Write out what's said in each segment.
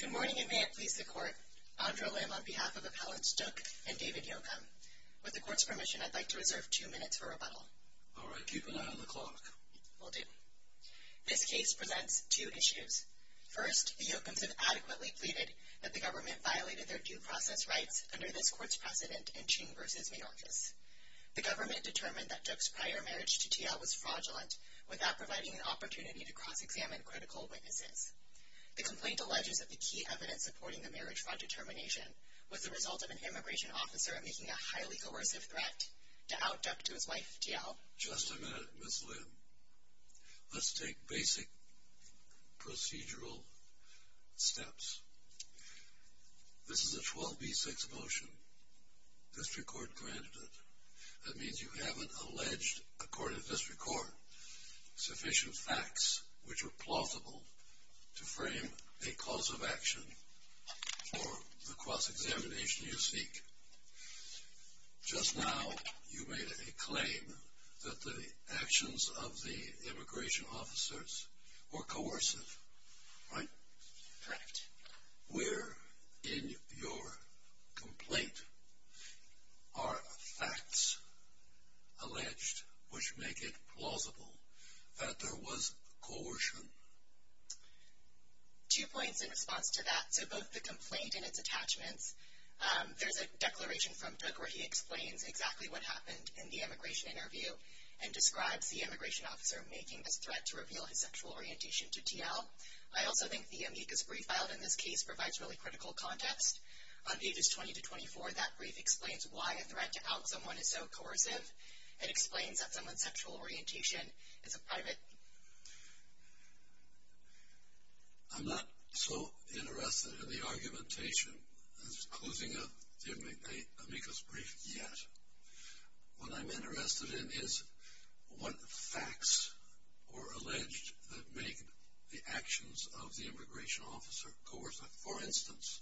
Good morning, and may it please the Court, Andra Lim on behalf of Appellants Dook and David Yocom. With the Court's permission, I'd like to reserve two minutes for rebuttal. All right. Keep an eye on the clock. Will do. This case presents two issues. First, the Yocoms have adequately pleaded that the government violated their due process rights under this Court's precedent in Ching v. Mayorkas. The government determined that Dook's prior marriage to T.L. was fraudulent, without providing an opportunity to cross-examine critical witnesses. The complaint alleges that the key evidence supporting the marriage fraud determination was the result of an immigration officer making a highly coercive threat to out Dook to his wife, T.L. Just a minute, Ms. Lim. Let's take basic procedural steps. This is a 12b-6 motion. District Court granted it. That means you haven't alleged, according to District Court, sufficient facts which are plausible to frame a cause of action for the cross-examination you seek. Just now, you made a claim that the actions of the immigration officers were coercive. Right? Correct. Where in your complaint are facts alleged which make it plausible that there was coercion? Two points in response to that. So both the complaint and its attachments. There's a declaration from Dook where he explains exactly what happened in the immigration interview and describes the immigration officer making this threat to reveal his sexual orientation to T.L. I also think the amicus brief filed in this case provides really critical context. On pages 20 to 24, that brief explains why a threat to out someone is so coercive. It explains that someone's sexual orientation is a private... I'm not so interested in the argumentation as closing up the amicus brief yet. What I'm interested in is what facts were alleged that make the actions of the immigration officer coercive. For instance,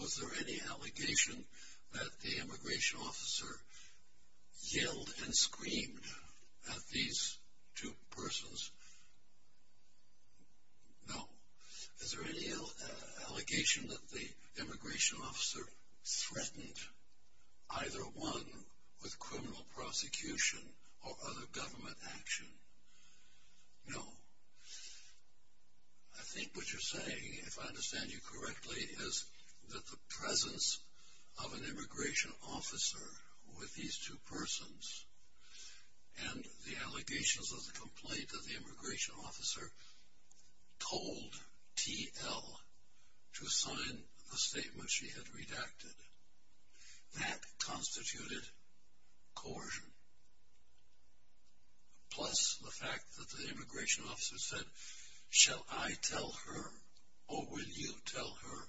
was there any allegation that the immigration officer yelled and screamed at these two persons? No. Is there any allegation that the immigration officer threatened either one with criminal prosecution or other government action? No. I think what you're saying, if I understand you correctly, is that the presence of an immigration officer with these two persons and the allegations of the complaint that the immigration officer told T.L. to sign the statement she had redacted, that constituted coercion. Plus, the fact that the immigration officer said, shall I tell her or will you tell her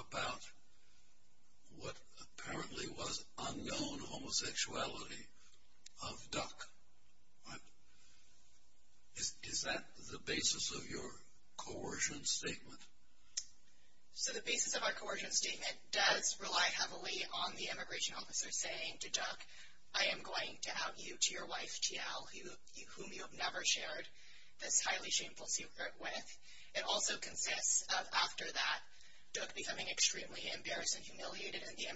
about what apparently was unknown homosexuality of Duck? Is that the basis of your coercion statement? So the basis of our coercion statement does rely heavily on the immigration officer saying to Duck, I am going to out you to your wife, T.L., whom you have never shared this highly shameful secret with. It also consists of, after that, Duck becoming extremely embarrassed and humiliated and the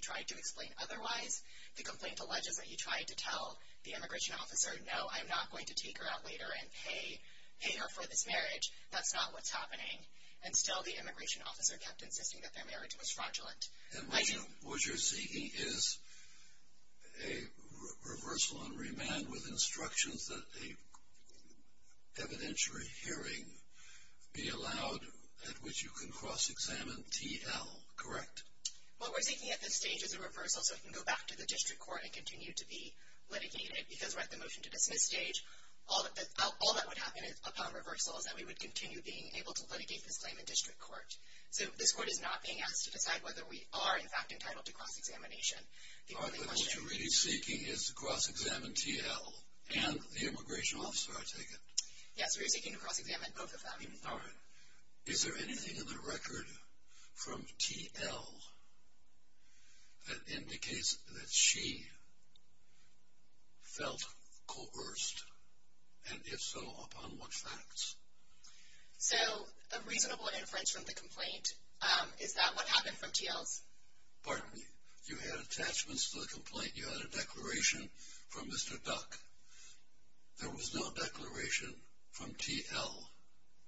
tried to explain otherwise. The complaint alleges that he tried to tell the immigration officer, no, I'm not going to take her out later and pay her for this marriage. That's not what's happening. And still the immigration officer kept insisting that their marriage was fraudulent. I do. And what you're seeking is a reversal and remand with instructions that an evidentiary hearing be allowed at which you can cross-examine T.L., correct? What we're seeking at this stage is a reversal so it can go back to the district court and continue to be litigated. Because we're at the motion to dismiss stage, all that would happen upon reversal is that we would continue being able to litigate this claim in district court. So this court is not being asked to decide whether we are in fact entitled to cross-examination. The only question... All right, but what you're really seeking is to cross-examine T.L. and the immigration officer, I take it? Yes, we are seeking to cross-examine both of them. All right. Is there anything in the record from T.L. that indicates that she felt coerced? And if so, upon what facts? So a reasonable inference from the complaint is that what happened from T.L.'s... Pardon me. You had attachments to the complaint. You had a declaration from Mr. Duck. There was no declaration from T.L.,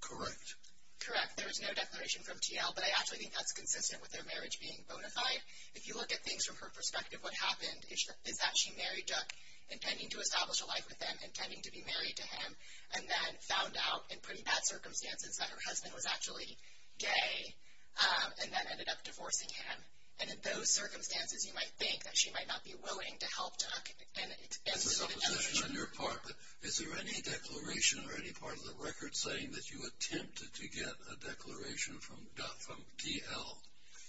correct? Correct. There was no declaration from T.L., but I actually think that's consistent with their marriage being bona fide. If you look at things from her perspective, what happened is that she married Duck, intending to establish a life with him, intending to be married to him, and then found out in pretty bad circumstances that her husband was actually gay and then ended up divorcing him. And in those circumstances, you might think that she might not be willing to help Duck As a supposition on your part, but is there any declaration or any part of the record saying that you attempted to get a declaration from T.L.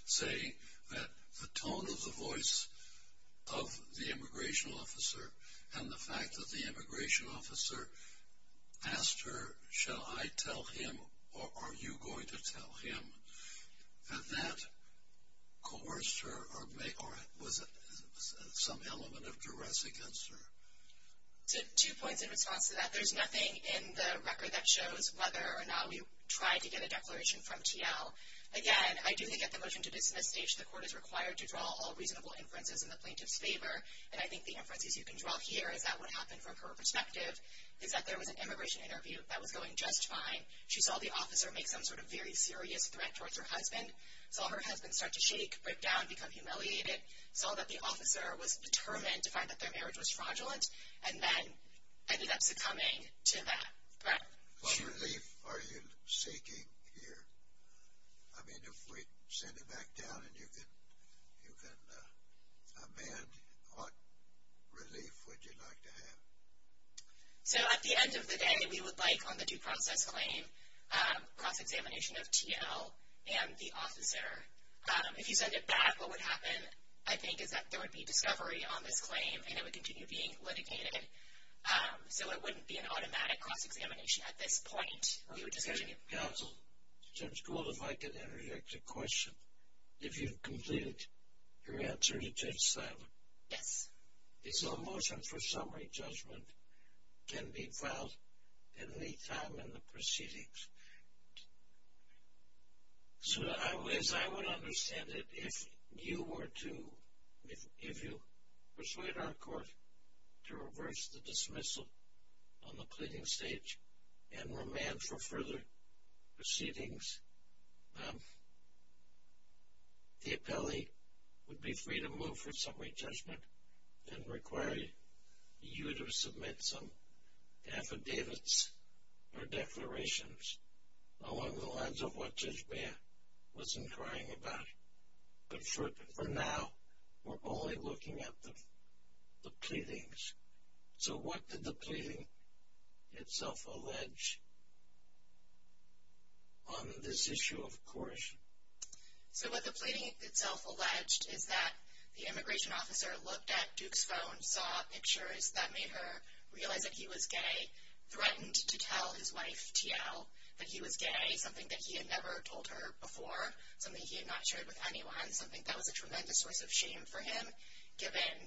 saying that the tone of the voice of the immigration officer and the fact that the immigration officer asked her, shall I tell him or are you going to tell him? Had that coerced her or was it some element of duress against her? Two points in response to that. There's nothing in the record that shows whether or not we tried to get a declaration from T.L. Again, I do think at the motion to dismiss stage, the court is required to draw all reasonable inferences in the plaintiff's favor, and I think the inferences you can draw here is that what happened from her perspective is that there was an immigration interview that was going just fine. She saw the officer make some sort of very serious threat towards her husband, saw her husband start to shake, break down, become humiliated, saw that the officer was determined to find that their marriage was fraudulent, and then ended up succumbing to that threat. What relief are you seeking here? I mean, if we send it back down and you can amend, what relief would you like to have? So at the end of the day, we would like on the due process claim cross-examination of T.L. and the officer. If you send it back, what would happen, I think, is that there would be discovery on this claim and it would continue being litigated. So it wouldn't be an automatic cross-examination at this point. Counsel, Judge Gould, if I could interject a question. If you've completed your answer to Judge Slavin. Yes. So a motion for summary judgment can be filed at any time in the proceedings. So as I would understand it, if you were to, if you persuaded our court to reverse the case for further proceedings, the appellee would be free to move for summary judgment and require you to submit some affidavits or declarations along the lines of what Judge Mayer was inquiring about. But for now, we're only looking at the pleadings. So what did the pleading itself allege on this issue, of course? So what the pleading itself alleged is that the immigration officer looked at Duke's phone, saw pictures that made her realize that he was gay, threatened to tell his wife, T.L., that he was gay, something that he had never told her before, something he had not shared with anyone, something that was a tremendous source of shame for him given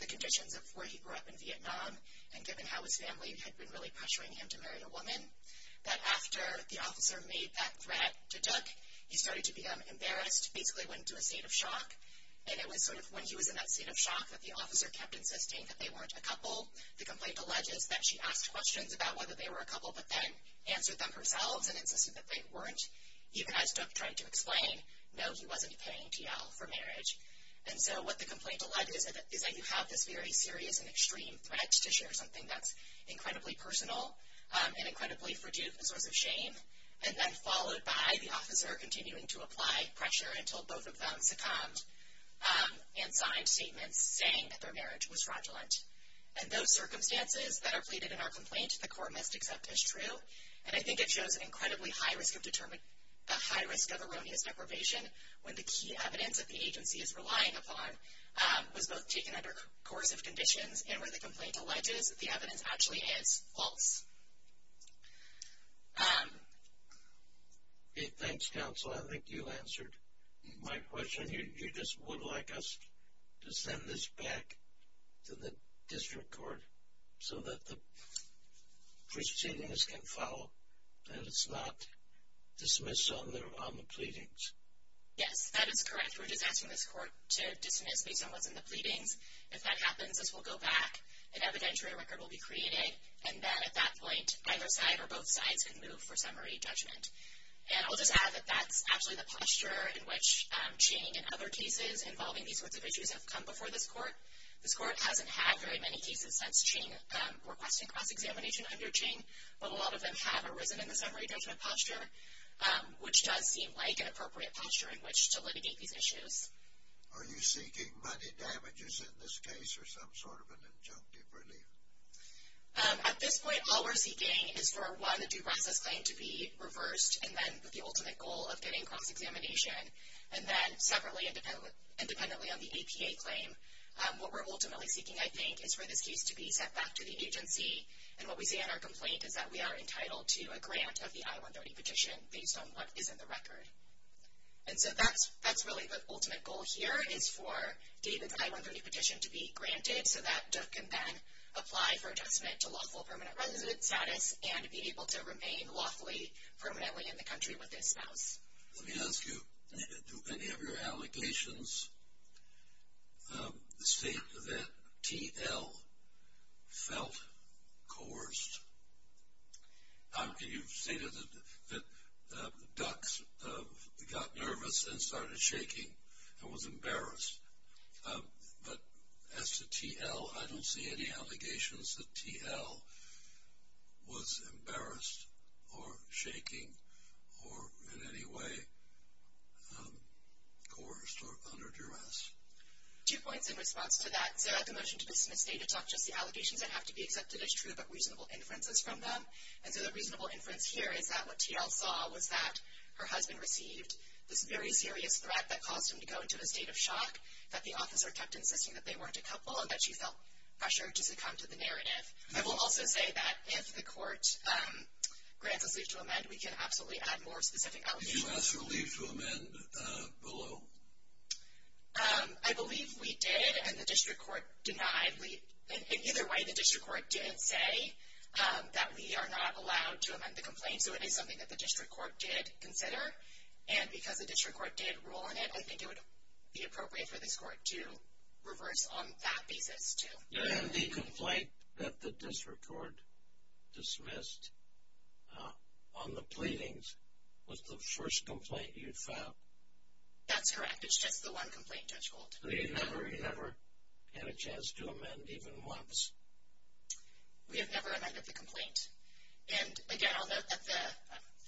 the conditions of where he grew up in Vietnam and given how his family had been really pressuring him to marry a woman, that after the officer made that threat to Duke, he started to become embarrassed, basically went into a state of shock, and it was sort of when he was in that state of shock that the officer kept insisting that they weren't a couple. The complaint alleges that she asked questions about whether they were a couple but then answered them herself and insisted that they weren't, even as Duke tried to explain, no, he wasn't paying T.L. for marriage. And so what the complaint alleges is that you have this very serious and extreme threat to share something that's incredibly personal and incredibly for Duke a source of shame, and then followed by the officer continuing to apply pressure until both of them succumbed and signed statements saying that their marriage was fraudulent. And those circumstances that are pleaded in our complaint, the court must accept as true, and I think it shows an incredibly high risk of erroneous deprivation when the key evidence that the agency is relying upon was both taken under coercive conditions and where the complaint alleges that the evidence actually is false. Thanks, counsel. I think you answered my question. You just would like us to send this back to the district court so that the proceedings can follow and it's not dismissed on the pleadings. Yes, that is correct. We're just asking this court to dismiss based on what's in the pleadings. If that happens, this will go back, an evidentiary record will be created, and then at that point either side or both sides can move for summary judgment. And I'll just add that that's actually the posture in which Ching and other cases involving these sorts of issues have come before this court. This court hasn't had very many cases since Ching requesting cross-examination under Ching, but a lot of them have arisen in the summary judgment posture, which does seem like an appropriate posture in which to litigate these issues. Are you seeking money damages in this case or some sort of an injunctive relief? At this point, all we're seeking is for, one, a due process claim to be reversed, and then the ultimate goal of getting cross-examination. And then separately, independently of the APA claim, what we're ultimately seeking, I think, is for this case to be sent back to the agency. And what we see in our complaint is that we are entitled to a grant of the I-130 petition based on what is in the record. And so that's really the ultimate goal here is for David's I-130 petition to be granted so that Dook can then apply for adjustment to lawful permanent resident status and be able to remain lawfully permanently in the country with his spouse. Let me ask you, do any of your allegations state that T.L. felt coerced? You've stated that Dook got nervous and started shaking and was embarrassed. But as to T.L., I don't see any allegations that T.L. was embarrassed or shaking or in any way coerced or under duress. Two points in response to that. So the motion to dismiss stated not just the allegations that have to be accepted as true but reasonable inferences from them. And so the reasonable inference here is that what T.L. saw was that her husband received this very serious threat that caused him to go into a state of shock, that the officer kept insisting that they weren't a couple, and that she felt pressure to succumb to the narrative. I will also say that if the court grants us leave to amend, we can absolutely add more specific allegations. Did you ask for leave to amend below? I believe we did, and the district court denied leave. In either way, the district court did say that we are not allowed to amend the complaint, so it is something that the district court did consider. And because the district court did rule on it, I think it would be appropriate for this court to reverse on that basis too. And the complaint that the district court dismissed on the pleadings was the first complaint you filed? That's correct. It's just the one complaint, Judge Gould. So you never had a chance to amend even once? We have never amended the complaint. And, again, I'll note that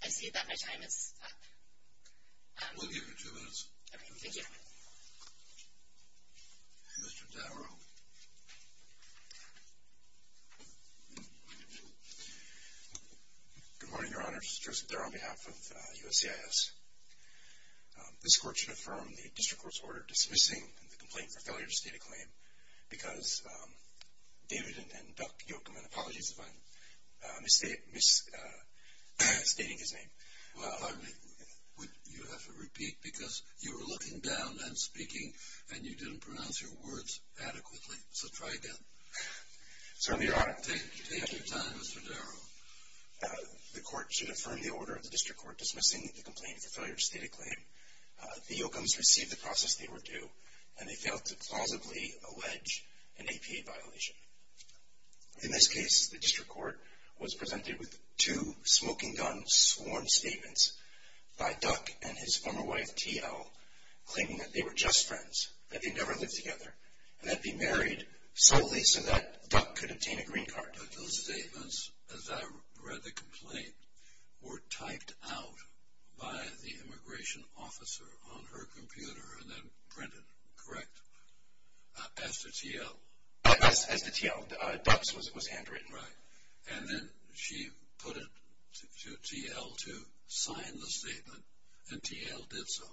I see that my time is up. We'll give you two minutes. Okay, thank you. Mr. Dowrow. Good morning, Your Honors. Joseph Dowrow on behalf of USCIS. This court should affirm the district court's order dismissing the complaint for failure to state a claim because David and Doug Yocum, and apologies if I'm misstating his name. You have to repeat because you were looking down and speaking and you didn't pronounce your words adequately, so try again. Certainly, Your Honor. Take your time, Mr. Dowrow. The court should affirm the order of the district court dismissing the complaint for failure to state a claim. The Yocums received the process they were due, and they failed to plausibly allege an APA violation. In this case, the district court was presented with two smoking gun sworn statements by Doug and his former wife, T.L., claiming that they were just friends, that they never lived together, and that they married solely so that Doug could obtain a green card. Those statements, as I read the complaint, were typed out by the immigration officer on her computer and then printed, correct, after T.L.? As the T.L. Doug's was handwritten. Right. And then she put it to T.L. to sign the statement, and T.L. did so.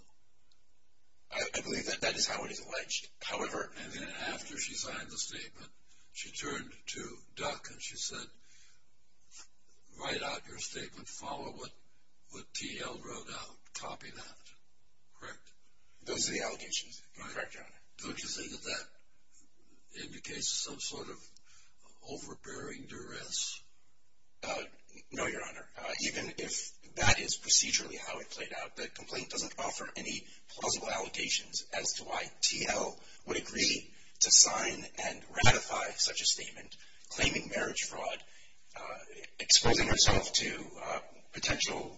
I believe that is how it is alleged. However… And then after she signed the statement, she turned to Doug and she said, write out your statement, follow what T.L. wrote out, copy that, correct? Those are the allegations, correct, Your Honor. Don't you think that that indicates some sort of overbearing duress? No, Your Honor. Even if that is procedurally how it played out, the complaint doesn't offer any plausible allegations as to why T.L. would agree to sign and ratify such a statement claiming marriage fraud, exposing herself to potential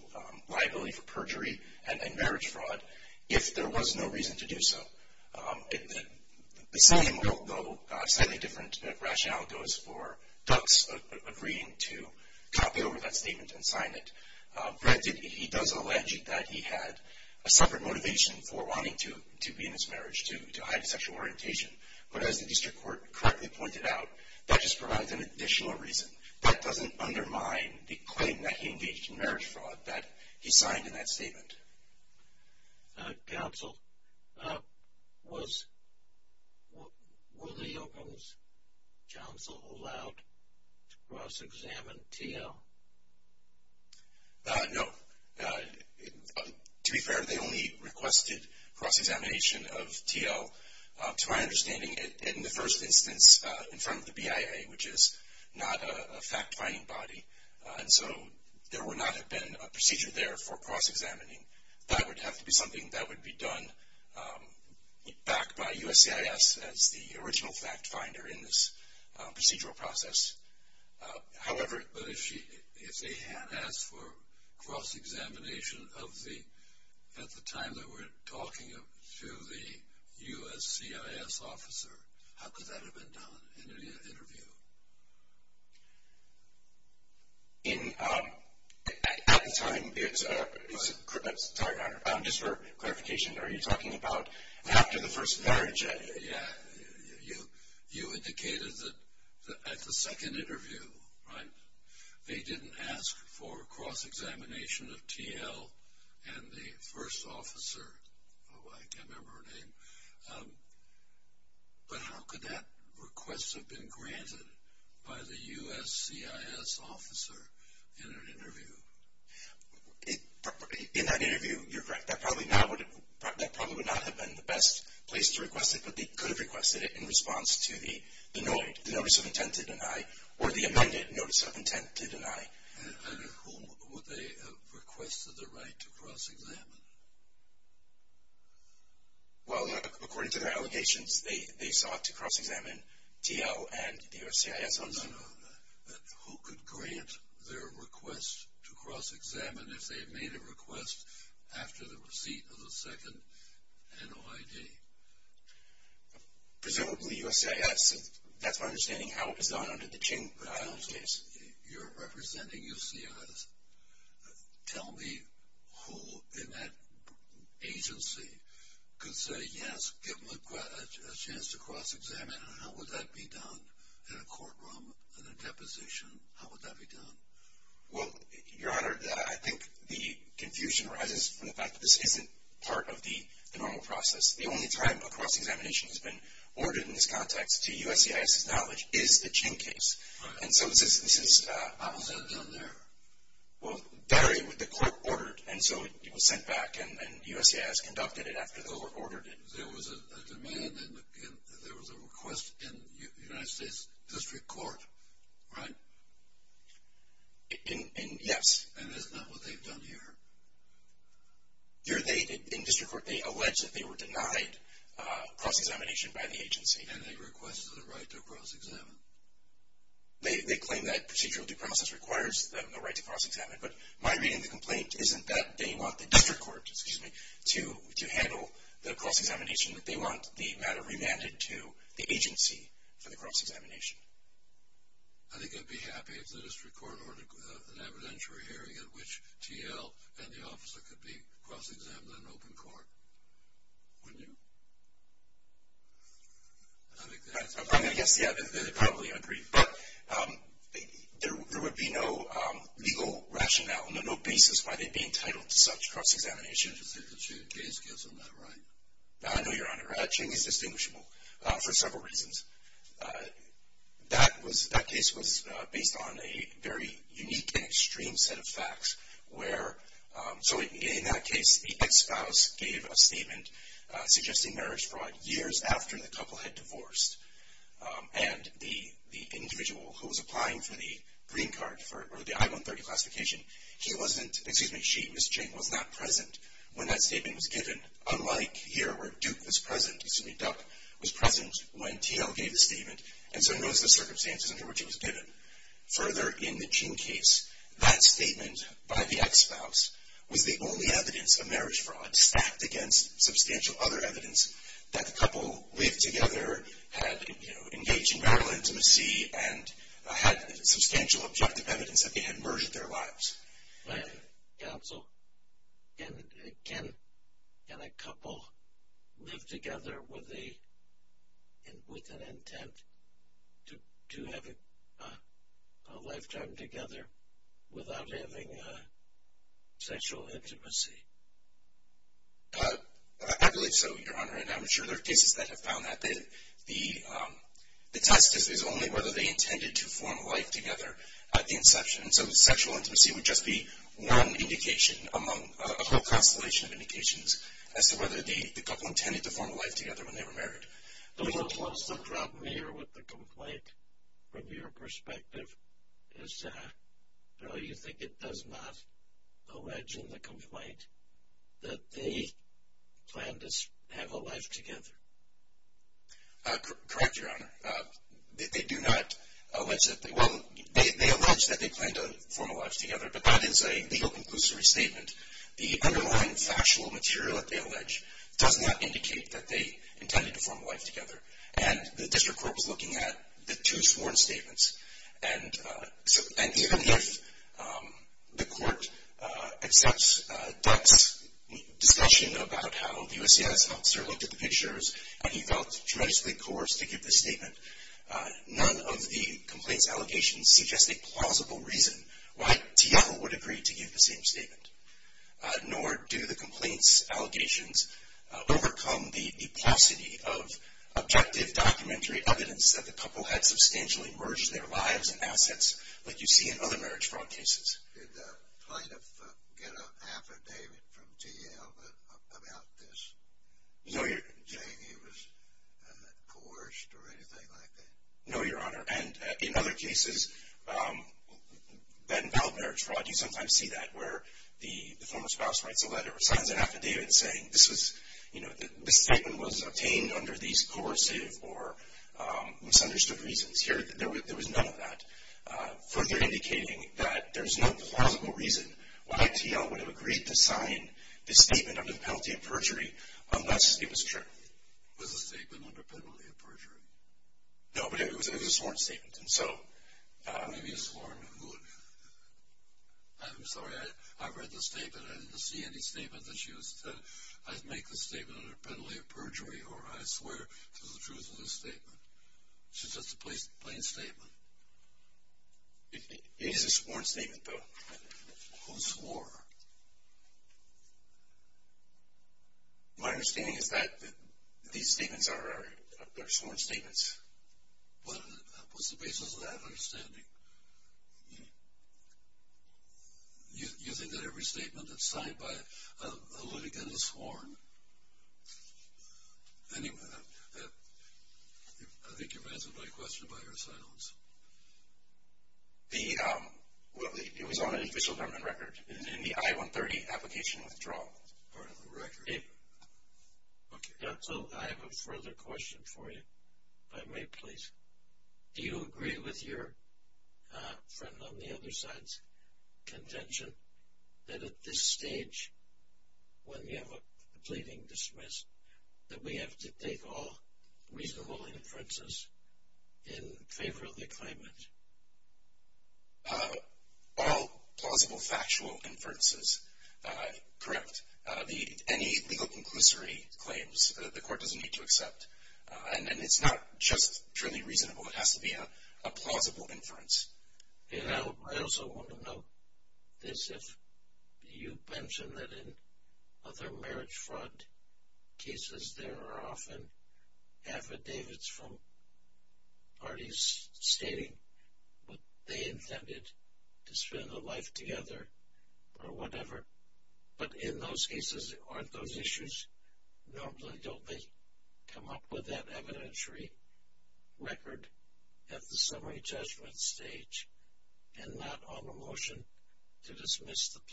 liability for perjury and marriage fraud if there was no reason to do so. The same, although slightly different rationale goes for Doug's agreeing to copy over that statement and sign it. Granted, he does allege that he had a separate motivation for wanting to be in this marriage, to hide his sexual orientation. But as the district court correctly pointed out, that just provides an additional reason. That doesn't undermine the claim that he engaged in marriage fraud that he signed in that statement. Counsel, were the Oakland's counsel allowed to cross-examine T.L.? No. To be fair, they only requested cross-examination of T.L. To my understanding, in the first instance, in front of the BIA, which is not a fact-finding body, and so there would not have been a procedure there for cross-examining. That would have to be something that would be done back by USCIS as the original fact-finder in this procedural process. However, if they had asked for cross-examination at the time that we're talking to the USCIS officer, how could that have been done in an interview? At the time, just for clarification, are you talking about after the first marriage? Yeah. You indicated that at the second interview, right, they didn't ask for cross-examination of T.L. and the first officer. I can't remember her name. But how could that request have been granted by the USCIS officer in an interview? In that interview, you're correct. That probably would not have been the best place to request it, but they could have requested it in response to the notice of intent to deny or the amended notice of intent to deny. And at whom would they have requested the right to cross-examine? Well, according to their allegations, they sought to cross-examine T.L. and the USCIS officer. Who could grant their request to cross-examine if they had made a request after the receipt of the second NOID? Presumably USCIS. That's my understanding. How is that under the King Island case? You're representing USCIS. Tell me who in that agency could say yes, give them a chance to cross-examine, and how would that be done in a courtroom, in a deposition? How would that be done? Well, Your Honor, I think the confusion arises from the fact that this isn't part of the normal process. The only time a cross-examination has been ordered in this context, to USCIS' knowledge, is the King case. How is that done there? Well, the court ordered, and so it was sent back, and USCIS conducted it after the court ordered it. There was a demand and there was a request in the United States District Court, right? Yes. And that's not what they've done here? Here, in District Court, they allege that they were denied cross-examination by the agency. And they requested the right to cross-examine. They claim that procedural due process requires the right to cross-examine, but my reading of the complaint isn't that they want the District Court to handle the cross-examination, but they want the matter remanded to the agency for the cross-examination. I think I'd be happy if the District Court ordered an evidentiary hearing at which T.L. and the officer could be cross-examined in open court. Wouldn't you? I think that's my point. I guess, yeah, they'd probably agree. But there would be no legal rationale, no basis why they'd be entitled to such cross-examination. I just think the King case gets them that right. I know, Your Honor. King is distinguishable for several reasons. That case was based on a very unique and extreme set of facts. In that case, the ex-spouse gave a statement suggesting marriage fraud years after the couple had divorced. And the individual who was applying for the green card for the I-130 classification, he wasn't, excuse me, she, Ms. Ching, was not present when that statement was given. Unlike here where Duke was present, excuse me, Duck was present when T.L. gave the statement, and so knows the circumstances under which it was given. Further, in the King case, that statement by the ex-spouse was the only evidence of marriage fraud stacked against substantial other evidence that the couple lived together, had engaged in marital intimacy, and had substantial objective evidence that they had merged their lives. Counsel, can a couple live together with an intent to have a lifetime together without having sexual intimacy? I believe so, Your Honor, and I'm sure there are cases that have found that. The test is only whether they intended to form a life together at the inception. So sexual intimacy would just be one indication among a whole constellation of indications as to whether the couple intended to form a life together when they were married. Do you suppose the problem here with the complaint, from your perspective, is you think it does not allege in the complaint that they planned to have a life together? Correct, Your Honor. They do not allege that they will. They allege that they planned to form a life together, but that is a legal conclusory statement. The underlying factual material that they allege does not indicate that they intended to form a life together, and the district court was looking at the two sworn statements. And even if the court accepts Duck's discussion about how the USCIS officer looked at the pictures and he felt tremendously coerced to give this statement, none of the complaint's allegations suggest a plausible reason why Thiel would agree to give the same statement. Nor do the complaint's allegations overcome the paucity of objective documentary evidence that the couple had substantially merged their lives and assets like you see in other marriage fraud cases. Did plaintiff get an affidavit from Thiel about this? No, Your Honor. Saying he was coerced or anything like that? No, Your Honor. And in other cases that involve marriage fraud, you sometimes see that, where the former spouse writes a letter or signs an affidavit saying, this statement was obtained under these coercive or misunderstood reasons. Here, there was none of that, further indicating that there is no plausible reason why Thiel would have agreed to sign the statement under penalty of perjury unless it was true. Was the statement under penalty of perjury? No, but it was a sworn statement. Maybe a sworn would. I'm sorry, I read the statement. I didn't see any statement that she said, I'd make the statement under penalty of perjury or I swear to the truth of this statement. It's just a plain statement. It is a sworn statement, though. Who swore? My understanding is that these statements are sworn statements. What's the basis of that understanding? You think that every statement that's signed by a litigant is sworn? Anyway, I think you've answered my question by your silence. It was on an official government record in the I-130 application withdrawal. Part of the record. Okay, so I have a further question for you, if I may, please. Do you agree with your friend on the other side's contention that at this stage, when you have a pleading dismiss, that we have to take all reasonable inferences in favor of the claimant? All plausible factual inferences, correct. Any legal conclusory claims, the court doesn't need to accept. And it's not just purely reasonable. It has to be a plausible inference. I also want to note this. You mentioned that in other marriage fraud cases, there are often affidavits from parties stating what they intended to spend a life together or whatever. But in those cases, aren't those issues? Normally don't they come up with that evidentiary record at the summary judgment stage and not on a motion to dismiss the pleadings?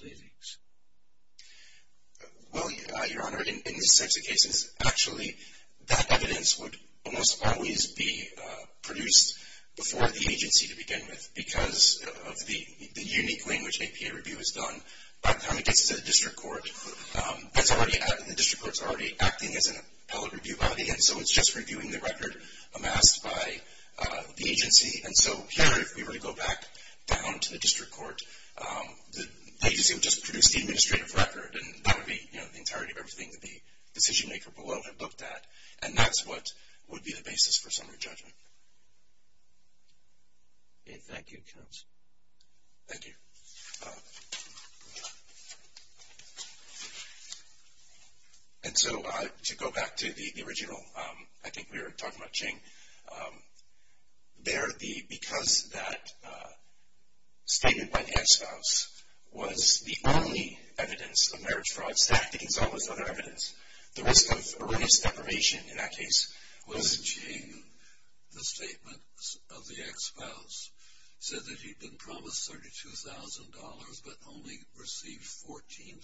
Well, Your Honor, in such cases, actually that evidence would almost always be produced before the agency to begin with because of the unique way in which APA review is done. By the time it gets to the district court, the district court is already acting as an appellate review body, and so it's just reviewing the record amassed by the agency. And so here, if we were to go back down to the district court, the agency would just produce the administrative record, and that would be the entirety of everything that the decision maker below had looked at. And that's what would be the basis for summary judgment. Okay, thank you, counsel. Thank you. And so to go back to the original, I think we were talking about Ching. There, because that statement by the ex-spouse was the only evidence of marriage fraud stacked against all those other evidence, the risk of early separation in that case was. Was it Ching, the statement of the ex-spouse, said that he'd been promised $32,000 but only received $14,000?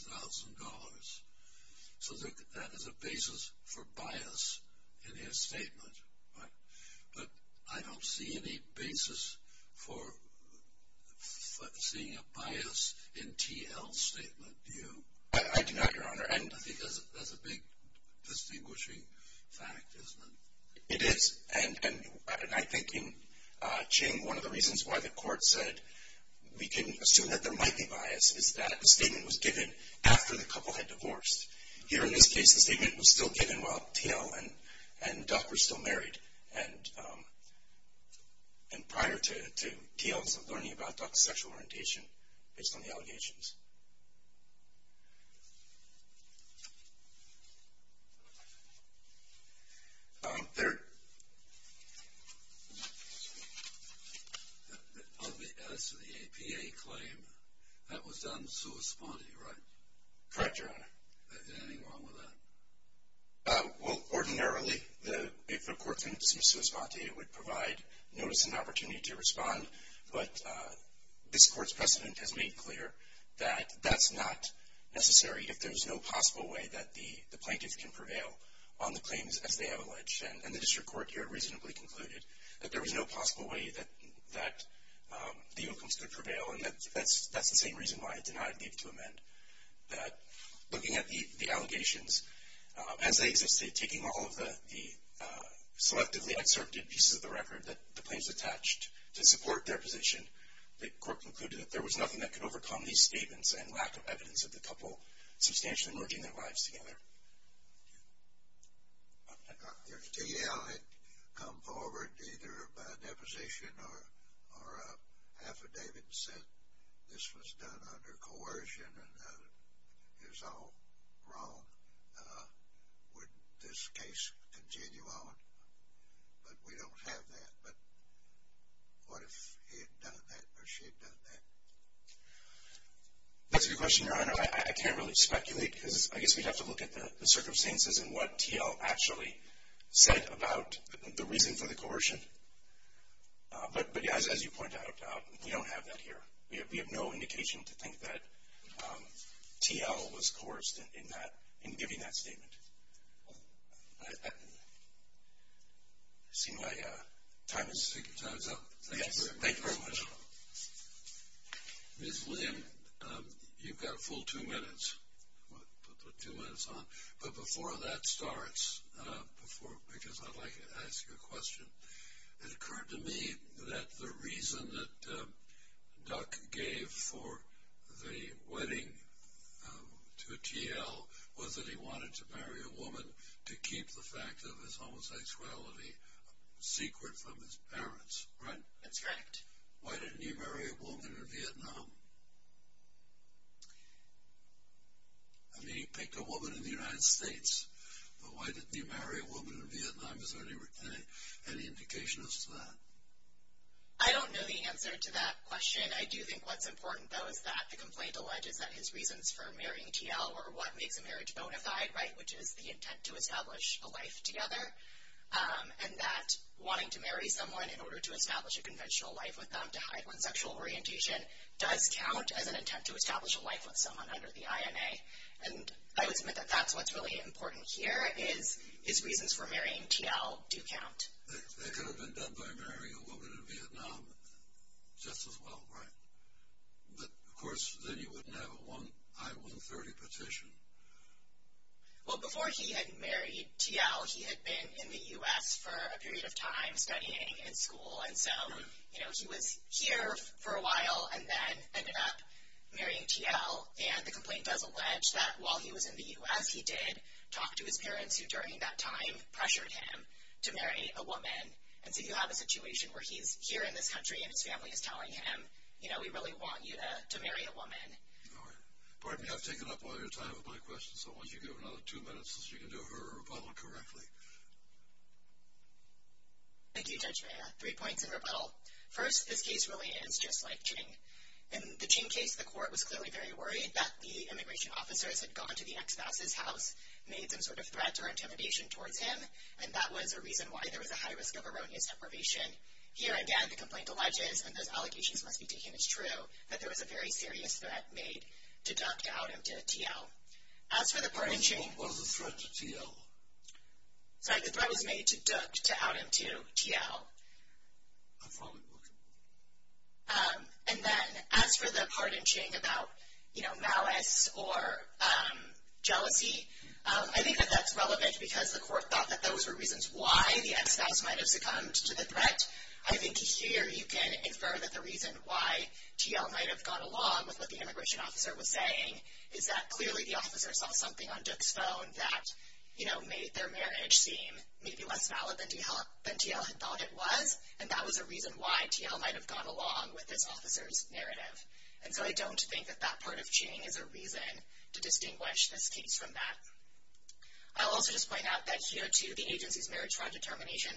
So that is a basis for bias in his statement, but I don't see any basis for seeing a bias in T.L.'s statement, do you? I do not, Your Honor. I think that's a big distinguishing fact, isn't it? It is. And I think in Ching, one of the reasons why the court said we can assume that there might be bias is that the statement was given after the couple had divorced. Here in this case, the statement was still given while T.L. and Duck were still married, and prior to T.L.'s learning about Duck's sexual orientation based on the allegations. There. As to the APA claim, that was done in sui sponte, right? Correct, Your Honor. Is there anything wrong with that? Well, ordinarily, if the court's in sui sponte, it would provide notice and opportunity to respond, but this Court's precedent has made clear that that's not necessary. If there's no possible way that the plaintiff can prevail on the claims as they have alleged, and the district court here reasonably concluded that there was no possible way that the outcomes could prevail, and that's the same reason why it's not a need to amend. That looking at the allegations, as they existed, taking all of the selectively excerpted pieces of the record that the plaintiffs attached to support their position, the court concluded that there was nothing that could overcome these statements and lack of evidence of the couple substantially merging their lives together. Okay. If D.L. had come forward either by deposition or affidavit and said this was done under coercion and that it was all wrong, would this case continue on? But we don't have that. But what if he had done that or she had done that? That's a good question, Your Honor. I can't really speculate because I guess we'd have to look at the circumstances and what T.L. actually said about the reason for the coercion. But, as you point out, we don't have that here. We have no indication to think that T.L. was coerced in giving that statement. I see my time is up. Thank you very much. Ms. William, you've got a full two minutes. Put two minutes on. But before that starts, because I'd like to ask you a question. It occurred to me that the reason that Duck gave for the wedding to T.L. was that he wanted to marry a woman to keep the fact of his homosexuality secret from his parents. Right. That's correct. Why didn't he marry a woman in Vietnam? I mean, he picked a woman in the United States, but why didn't he marry a woman in Vietnam? Is there any indication as to that? I don't know the answer to that question. I do think what's important, though, is that the complaint alleges that his reasons for marrying T.L. were what makes a marriage bona fide, right, which is the intent to establish a life together, and that wanting to marry someone in order to establish a conventional life with them to hide one's sexual orientation does count as an attempt to establish a life with someone under the INA. And I would submit that that's what's really important here is his reasons for marrying T.L. do count. That could have been done by marrying a woman in Vietnam just as well, right? But, of course, then you wouldn't have a I-130 petition. Well, before he had married T.L., he had been in the U.S. for a period of time studying in school, and so he was here for a while and then ended up marrying T.L., and the complaint does allege that while he was in the U.S., he did talk to his parents, who during that time pressured him to marry a woman. And so you have a situation where he's here in this country and his family is telling him, All right. Pardon me, I've taken up all your time with my questions, so why don't you give her another two minutes so she can do her rebuttal correctly. Thank you, Judge Mayer. Three points in rebuttal. First, this case really is just like Ching. In the Ching case, the court was clearly very worried that the immigration officers had gone to the ex-boss' house, made some sort of threat or intimidation towards him, and that was a reason why there was a high risk of erroneous deprivation. Here again, the complaint alleges, and those allegations must be taken as true, that there was a very serious threat made to Duck to out him to T.L. As for the part in Ching. The threat was a threat to T.L. Sorry, the threat was made to Duck to out him to T.L. And then as for the part in Ching about, you know, malice or jealousy, I think that that's relevant because the court thought that those were reasons why the ex-boss might have succumbed to the threat. I think here you can infer that the reason why T.L. might have gone along with what the immigration officer was saying is that clearly the officer saw something on Duck's phone that, you know, made their marriage seem maybe less valid than T.L. had thought it was, and that was a reason why T.L. might have gone along with this officer's narrative. And so I don't think that that part of Ching is a reason to distinguish this case from that. I'll also just point out that here, too, the agency's marriage fraud determination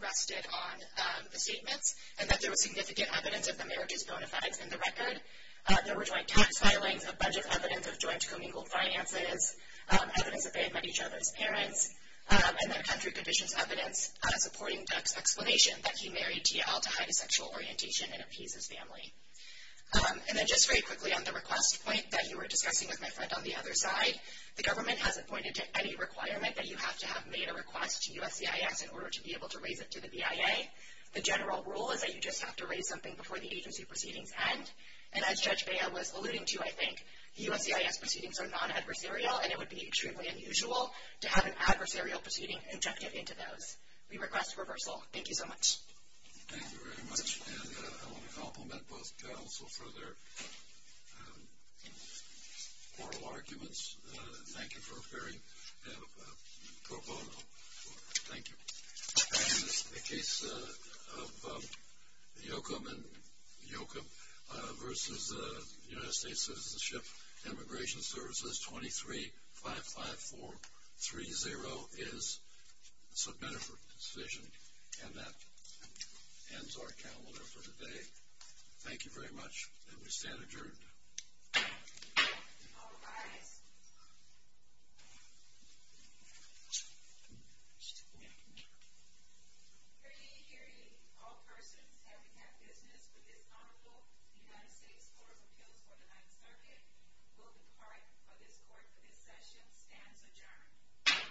rested on the statements and that there was significant evidence of the marriage's bona fides in the record. There were joint tax filings, a bunch of evidence of joint commingled finances, evidence that they had met each other as parents, and then country conditions evidence supporting Duck's explanation that he married T.L. to hide his sexual orientation and appease his family. And then just very quickly on the request point that you were discussing with my friend on the other side, the government hasn't pointed to any requirement that you have to have made a request to USCIS in order to be able to raise it to the BIA. The general rule is that you just have to raise something before the agency proceedings end. And as Judge Baya was alluding to, I think, USCIS proceedings are non-adversarial and it would be extremely unusual to have an adversarial proceeding conjecture into those. We request reversal. Thank you so much. Thank you very much. And I want to compliment both counsel for their oral arguments. Thank you for a very pro bono report. Thank you. In the case of Yoakam versus the United States Citizenship and Immigration Services, 2355430 is submitted for decision. And that ends our calendar for today. Thank you very much. And we stand adjourned. All rise. Hear ye, hear ye. All persons having had business with this Honorable United States Court of Appeals for the 9th Circuit will depart for this court for this session. Stands adjourned.